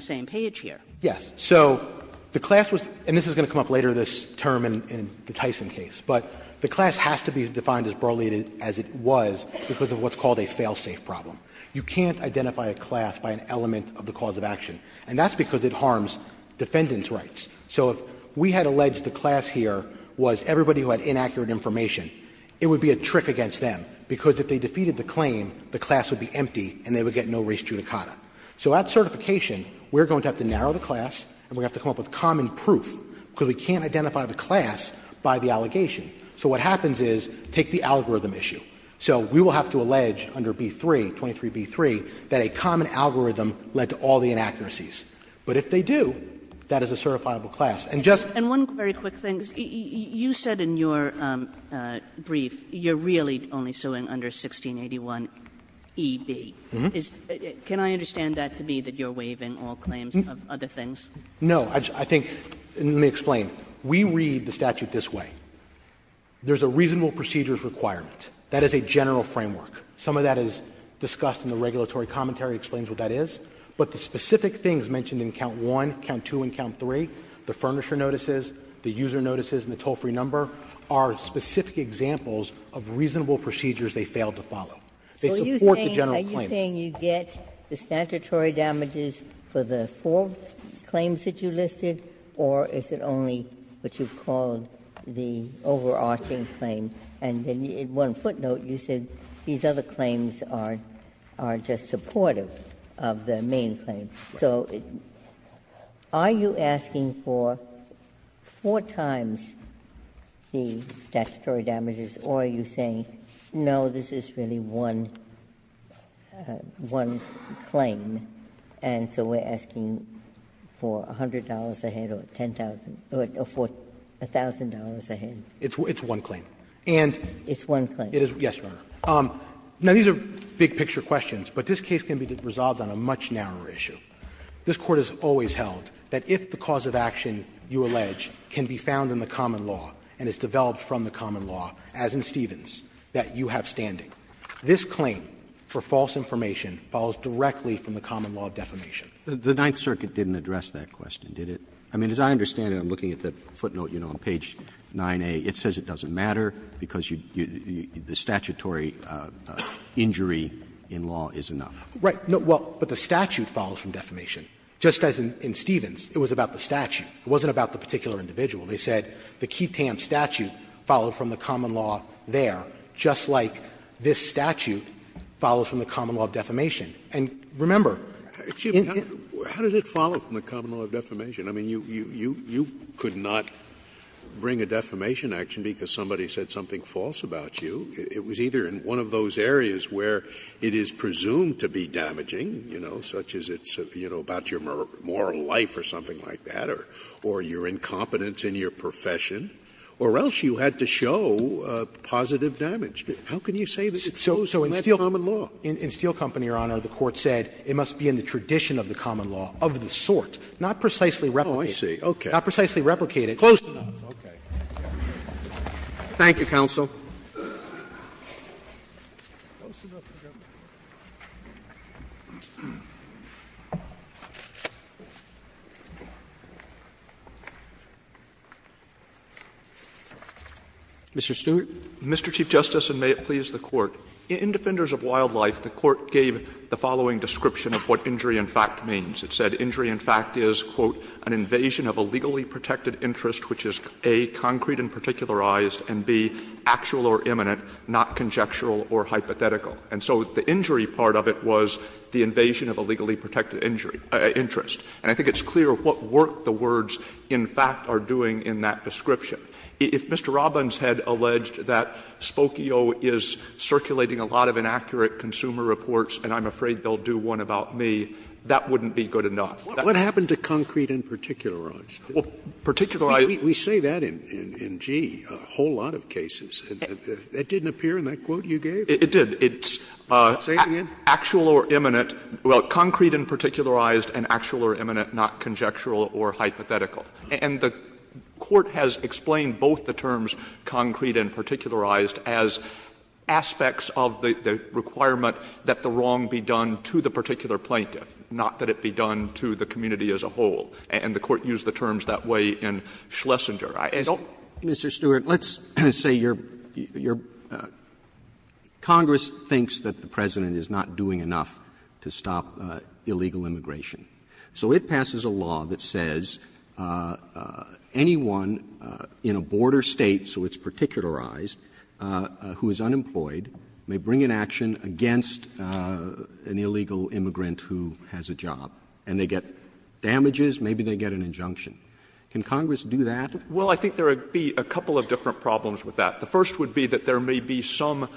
same page here. Verrilli, Yes. So the class was – and this is going to come up later, this term in the Tyson case. But the class has to be defined as burly as it was because of what's called a fail-safe problem. You can't identify a class by an element of the cause of action. And that's because it harms defendant's rights. So if we had alleged the class here was everybody who had inaccurate information, it would be a trick against them, because if they defeated the claim, the class would be empty and they would get no res judicata. So at certification, we're going to have to narrow the class and we're going to have to come up with common proof, because we can't identify the class by the allegation. So what happens is, take the algorithm issue. So we will have to allege under B-3, 23B-3, that a common algorithm led to all the inaccuracies. But if they do, that is a certifiable class. And just – And one very quick thing. You said in your brief you're really only suing under 1681eb. Mm-hmm. Can I understand that to be that you're waiving all claims of other things? No. I think – let me explain. We read the statute this way. There's a reasonable procedures requirement. That is a general framework. Some of that is discussed in the regulatory commentary, explains what that is. But the specific things mentioned in count 1, count 2, and count 3, the furnisher notices, the user notices, and the toll-free number, are specific examples of reasonable procedures they failed to follow. They support the general claim. Are you saying you get the statutory damages for the four claims that you listed, or is it only what you've called the overarching claim? And then in one footnote, you said these other claims are just supportive of the main claim. So are you asking for four times the statutory damages, or are you saying, no, this is really one claim, and so we're asking for $100 a head or $1,000 a head? It's one claim. It's one claim. Yes, Your Honor. Now, these are big-picture questions, but this case can be resolved on a much narrower issue. This Court has always held that if the cause of action you allege can be found in the common law and is developed from the common law, as in Stevens, that you have to have a clear understanding, this claim for false information follows directly from the common law of defamation. Roberts, The Ninth Circuit didn't address that question, did it? I mean, as I understand it, I'm looking at the footnote, you know, on page 9a. It says it doesn't matter because the statutory injury in law is enough. Right. No, well, but the statute follows from defamation, just as in Stevens. It was about the statute. It wasn't about the particular individual. They said the Keat-Tam statute followed from the common law there, just like this statute follows from the common law of defamation. And remember, in the case of Stevens, it was about the statutory injury in law, just as in Stevens. Scalia, I mean, you could not bring a defamation action because somebody said something false about you. It was either in one of those areas where it is presumed to be damaging, you know, such as it's, you know, about your moral life or something like that, or your incompetence in your profession, or else you had to show positive damage. How can you say that it's closed in that common law? So in Steel Company, Your Honor, the Court said it must be in the tradition of the common law of the sort, not precisely replicated. Oh, I see. Okay. Not precisely replicated. Close enough. Okay. Roberts. Thank you, counsel. Mr. Stewart. Mr. Chief Justice, and may it please the Court, in Defenders of Wildlife, the Court gave the following description of what injury in fact means. And so the injury part of it was the invasion of a legally protected injury or interest. And I think it's clear what work the words in fact are doing in that description. If Mr. Robbins had alleged that Spokio is circulating a lot of inaccurate consumer reports and I'm afraid they'll do one about me, that wouldn't be good enough. What happened to concrete and particular, Roberts? Well, particular, I think we say that in, gee, a whole lot of cases. It didn't appear in that quote you gave? It did. It's actual or imminent, well, concrete and particularized and actual or imminent, not conjectural or hypothetical. And the Court has explained both the terms concrete and particularized as aspects of the requirement that the wrong be done to the particular plaintiff, not that it be done to the community as a whole. And the Court used the terms that way in Schlesinger. I don't know. Mr. Stewart, let's say you're ‑‑ Congress thinks that the President is not doing enough to stop illegal immigration. So it passes a law that says anyone in a border State, so it's particularized, who is unemployed may bring an action against an illegal immigrant who has a job. And they get damages, maybe they get an injunction. Can Congress do that? Well, I think there would be a couple of different problems with that. The first would be that there may be some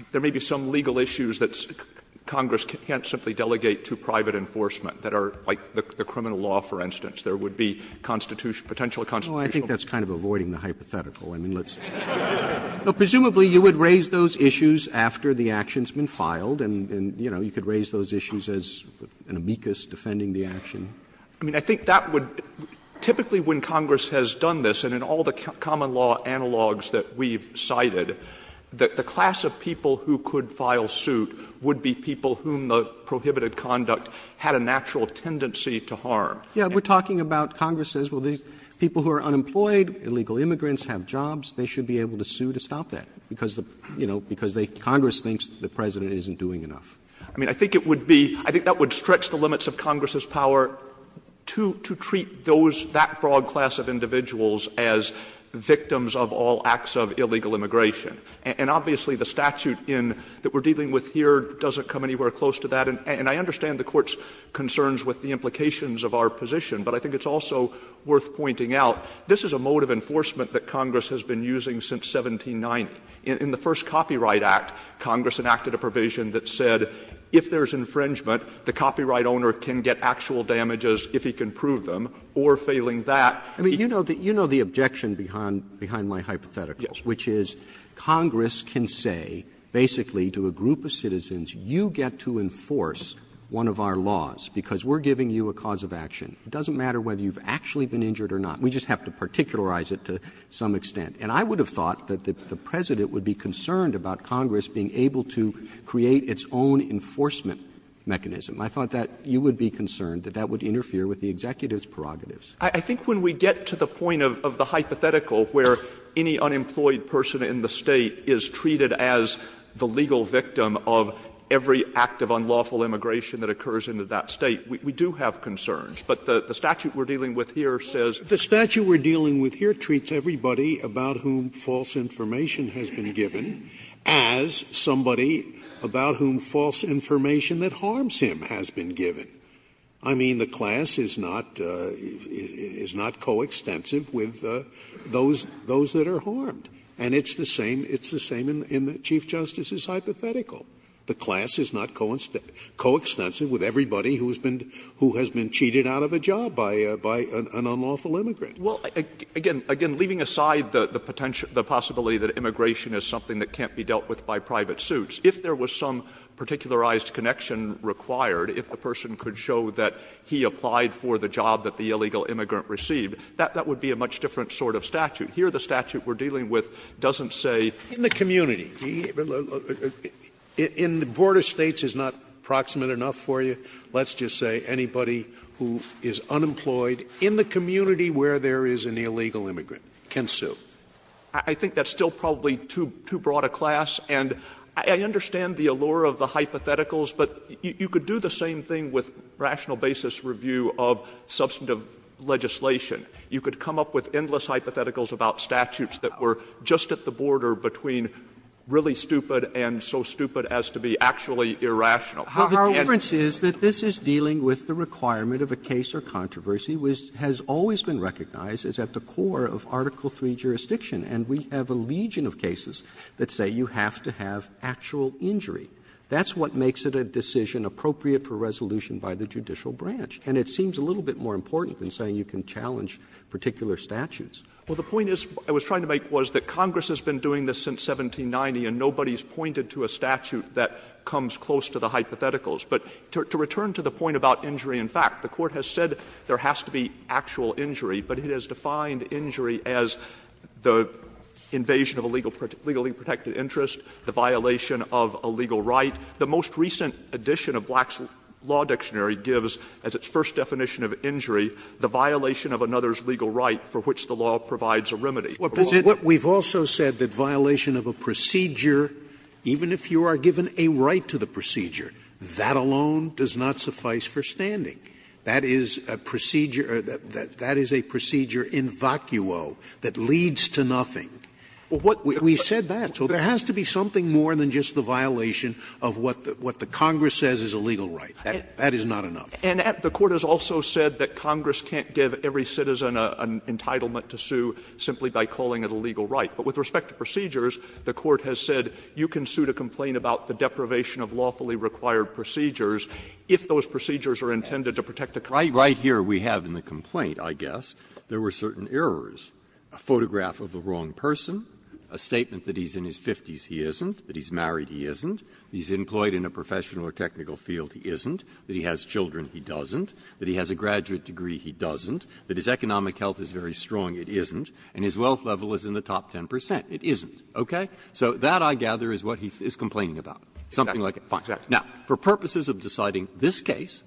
‑‑ there may be some legal issues that Congress can't simply delegate to private enforcement, that are like the criminal law, for instance. There would be constitutional, potential constitutional— Roberts' I think that's kind of avoiding the hypothetical. I mean, let's— Presumably you would raise those issues after the action has been filed and, you know, you could raise those issues as an amicus defending the action. I mean, I think that would ‑‑ typically when Congress has done this, and in all the common law analogs that we've cited, that the class of people who could file suit would be people whom the prohibited conduct had a natural tendency to harm. Yeah. We're talking about Congress says, well, these people who are unemployed, illegal immigrants, have jobs, they should be able to sue to stop that, because, you know, because Congress thinks the President isn't doing enough. I mean, I think it would be ‑‑ I think that would stretch the limits of Congress's power to treat those ‑‑ that broad class of individuals as victims of all acts of illegal immigration. And obviously the statute in ‑‑ that we're dealing with here doesn't come anywhere close to that. And I understand the Court's concerns with the implications of our position, but I think it's also worth pointing out this is a mode of enforcement that Congress has been using since 1790. In the first Copyright Act, Congress enacted a provision that said if there's infringement, the copyright owner can get actual damages if he can prove them, or failing that ‑‑ Roberts. You know the objection behind my hypothetical, which is Congress can say basically to a group of citizens, you get to enforce one of our laws because we're giving you a cause of action. It doesn't matter whether you've actually been injured or not. We just have to particularize it to some extent. And I would have thought that the President would be concerned about Congress being able to create its own enforcement mechanism. I thought that you would be concerned that that would interfere with the executive's prerogatives. Stewart. I think when we get to the point of the hypothetical where any unemployed person in the State is treated as the legal victim of every act of unlawful immigration that occurs in that State, we do have concerns. But the statute we're dealing with here says ‑‑ The statute we're dealing with here treats everybody about whom false information has been given as somebody about whom false information that harms him has been given. I mean, the class is not ‑‑ is not coextensive with those ‑‑ those that are harmed. And it's the same ‑‑ it's the same in the Chief Justice's hypothetical. The class is not coextensive with everybody who's been ‑‑ who has been cheated out of a job by an unlawful immigrant. Well, again, leaving aside the potential ‑‑ the possibility that immigration is something that can't be dealt with by private suits, if there was some particularized connection required, if the person could show that he applied for the job that the illegal immigrant received, that would be a much different sort of statute. Here, the statute we're dealing with doesn't say ‑‑ In the community ‑‑ in the Board of States is not proximate enough for you. Let's just say anybody who is unemployed in the community where there is an illegal immigrant can sue. I think that's still probably too ‑‑ too broad a class. And I understand the allure of the hypotheticals, but you could do the same thing with rational basis review of substantive legislation. You could come up with endless hypotheticals about statutes that were just at the border between really stupid and so stupid as to be actually irrational. Roberts Well, the difference is that this is dealing with the requirement of a case or controversy which has always been recognized as at the core of Article III jurisdiction. And we have a legion of cases that say you have to have actual injury. That's what makes it a decision appropriate for resolution by the judicial branch. And it seems a little bit more important than saying you can challenge particular statutes. Well, the point is ‑‑ I was trying to make was that Congress has been doing this since 1790, and nobody has pointed to a statute that comes close to the hypotheticals. But to return to the point about injury in fact, the Court has said there has to be actual injury, but it has defined injury as the invasion of a legally protected interest, the violation of a legal right. The most recent edition of Black's Law Dictionary gives, as its first definition of injury, the violation of another's legal right for which the law provides a remedy. Scalia. But we've also said that violation of a procedure, even if you are given a right to the procedure, that alone does not suffice for standing. That is a procedure ‑‑ that is a procedure in vacuo that leads to nothing. We've said that. So there has to be something more than just the violation of what the Congress says is a legal right. That is not enough. And the Court has also said that Congress can't give every citizen an entitlement to sue simply by calling it a legal right. But with respect to procedures, the Court has said you can sue to complain about the deprivation of lawfully required procedures if those procedures are intended to protect a country. Breyer. Right here we have in the complaint, I guess, there were certain errors. A photograph of the wrong person, a statement that he's in his 50s, he isn't, that he's married, he isn't, he's employed in a professional or technical field, he isn't, that he has children, he doesn't, that he has a graduate degree, he doesn't, that his economic health is very strong, it isn't, and his wealth level is in the top 10 percent, it isn't. Okay? So that, I gather, is what he is complaining about. Something like it. Fine. Now, for purposes of deciding this case,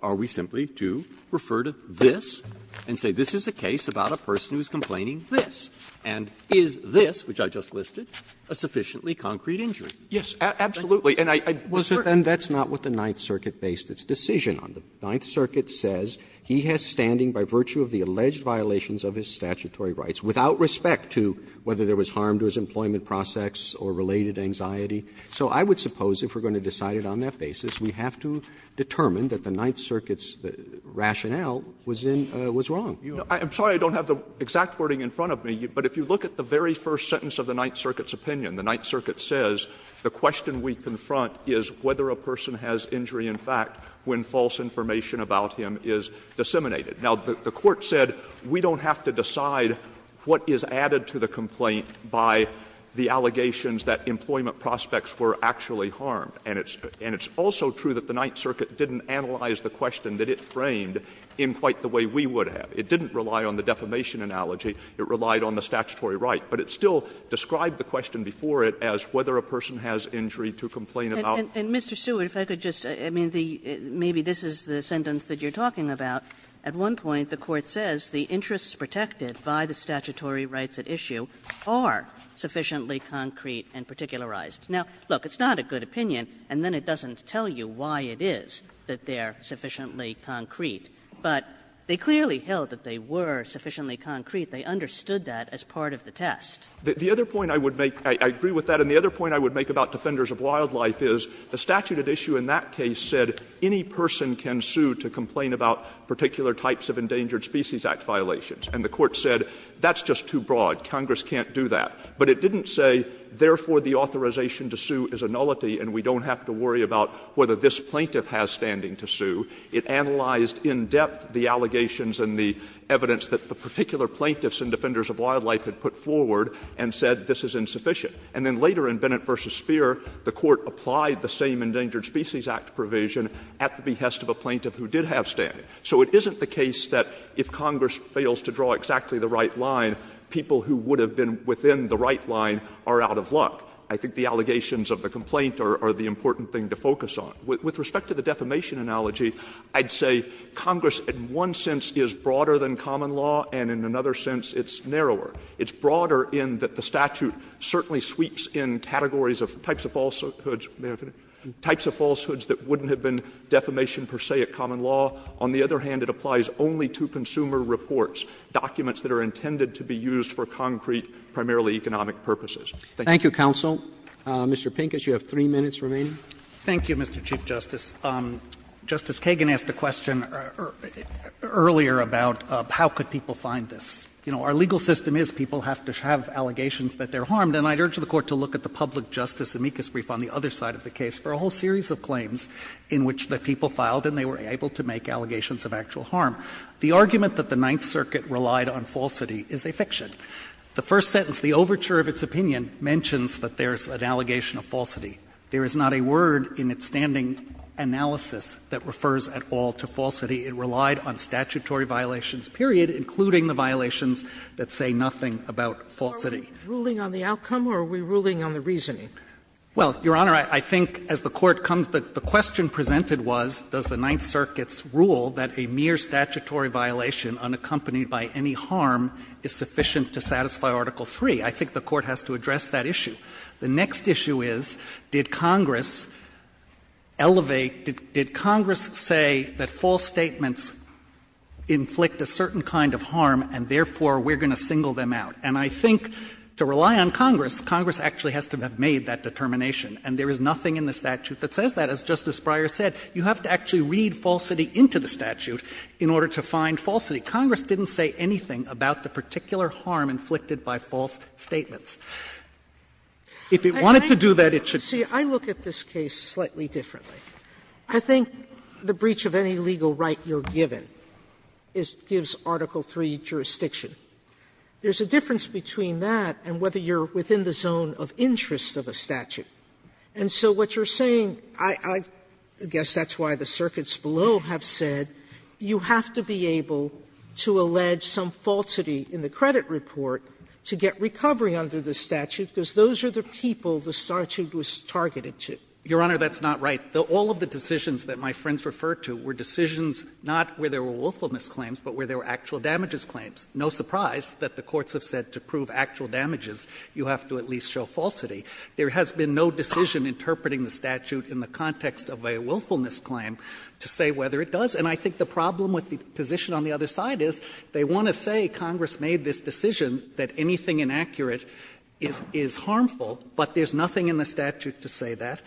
are we simply to refer to this and say this is a case about a person who is complaining this, and is this, which I just listed, a sufficiently concrete injury? Yes, absolutely. And I ‑‑ Roberts. And that's not what the Ninth Circuit based its decision on. The Ninth Circuit says he has standing by virtue of the alleged violations of his statutory rights, without respect to whether there was harm to his employment process or related anxiety. So I would suppose if we're going to decide it on that basis, we have to determine that the Ninth Circuit's rationale was in ‑‑ was wrong. I'm sorry I don't have the exact wording in front of me, but if you look at the very first sentence of the Ninth Circuit's opinion, the Ninth Circuit says the question we confront is whether a person has injury in fact when false information about him is disseminated. Now, the court said we don't have to decide what is added to the complaint by the allegations that employment prospects were actually harmed. And it's also true that the Ninth Circuit didn't analyze the question that it framed in quite the way we would have. It didn't rely on the defamation analogy. It relied on the statutory right. But it still described the question before it as whether a person has injury to complain about. Kagan. And, Mr. Stewart, if I could just ‑‑ I mean, the ‑‑ maybe this is the sentence that you're talking about. At one point the court says the interests protected by the statutory rights at issue are sufficiently concrete and particularized. Now, look, it's not a good opinion, and then it doesn't tell you why it is that they're sufficiently concrete. But they clearly held that they were sufficiently concrete. They understood that as part of the test. Stewart. The other point I would make ‑‑ I agree with that. And the other point I would make about Defenders of Wildlife is the statute at issue in that case said any person can sue to complain about particular types of Endangered Species Act violations. And the court said that's just too broad. Congress can't do that. But it didn't say, therefore, the authorization to sue is a nullity and we don't have to worry about whether this plaintiff has standing to sue. It analyzed in depth the allegations and the evidence that the particular plaintiffs and defenders of wildlife had put forward and said this is insufficient. And then later in Bennett v. Speer, the court applied the same Endangered Species Act provision at the behest of a plaintiff who did have standing. So it isn't the case that if Congress fails to draw exactly the right line, people who would have been within the right line are out of luck. I think the allegations of the complaint are the important thing to focus on. With respect to the defamation analogy, I'd say Congress in one sense is broader than common law and in another sense it's narrower. It's broader in that the statute certainly sweeps in categories of types of falsehoods that wouldn't have been defamation per se at common law. On the other hand, it applies only to consumer reports, documents that are intended to be used for concrete, primarily economic purposes. Thank you. Roberts' Thank you, counsel. Mr. Pincus, you have three minutes remaining. Pincus Thank you, Mr. Chief Justice. Justice Kagan asked a question earlier about how could people find this. You know, our legal system is people have to have allegations that they're harmed. And I'd urge the Court to look at the public justice amicus brief on the other side of the case for a whole series of claims in which the people filed and they were able to make allegations of actual harm. The argument that the Ninth Circuit relied on falsity is a fiction. The first sentence, the overture of its opinion, mentions that there's an allegation of falsity. There is not a word in its standing analysis that refers at all to falsity. It relied on statutory violations, period, including the violations that say nothing about falsity. Sotomayor Are we ruling on the outcome or are we ruling on the reasoning? Pincus Well, Your Honor, I think as the Court comes to the question presented was, does the Ninth Circuit's rule that a mere statutory violation unaccompanied by any harm is sufficient to satisfy Article III? I think the Court has to address that issue. The next issue is, did Congress elevate, did Congress say that false statements inflict a certain kind of harm and therefore we're going to single them out? And I think to rely on Congress, Congress actually has to have made that determination. And there is nothing in the statute that says that. As Justice Breyer said, you have to actually read falsity into the statute in order to find falsity. Congress didn't say anything about the particular harm inflicted by false statements. If it wanted to do that, it should. Sotomayor See, I look at this case slightly differently. I think the breach of any legal right you're given gives Article III jurisdiction. There's a difference between that and whether you're within the zone of interest of a statute. And so what you're saying, I guess that's why the circuits below have said you have to be able to allege some falsity in the credit report to get recovery under the statute because those are the people the statute was targeted to. Your Honor, that's not right. All of the decisions that my friends referred to were decisions not where there were willfulness claims, but where there were actual damages claims. No surprise that the courts have said to prove actual damages, you have to at least show falsity. There has been no decision interpreting the statute in the context of a willfulness claim to say whether it does. And I think the problem with the position on the other side is they want to say Congress made this decision that anything inaccurate is harmful, but there's nothing in the statute to say that.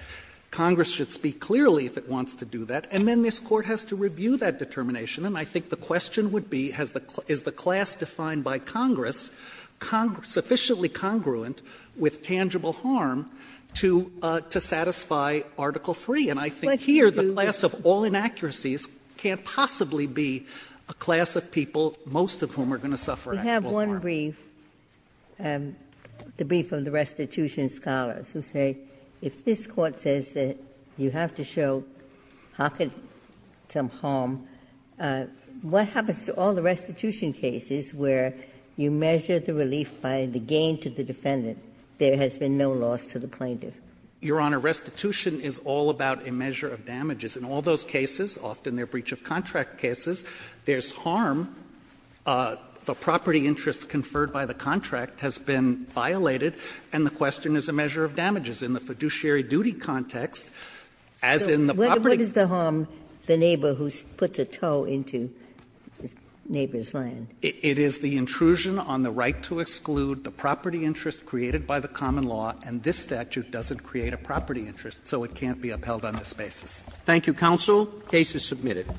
Congress should speak clearly if it wants to do that. And then this Court has to review that determination. And I think the question would be, is the class defined by Congress sufficiently congruent with tangible harm to satisfy Article III? And I think here the class of all inaccuracies can't possibly be a class of people, most of whom are going to suffer actual harm. Ginsburg. We have one brief, the brief of the restitution scholars, who say if this Court says that you have to show some harm, what happens to all the restitution cases where you measure the relief by the gain to the defendant, there has been no loss to the plaintiff? Your Honor, restitution is all about a measure of damages. In all those cases, often they're breach-of-contract cases, there's harm. The property interest conferred by the contract has been violated, and the question is a measure of damages. In the fiduciary duty context, as in the property case. Ginsburg. So what is the harm, the neighbor who puts a toe into the neighbor's land? It is the intrusion on the right to exclude the property interest created by the common law, and this statute doesn't create a property interest, so it can't be upheld on this basis. Thank you, counsel. The case is submitted.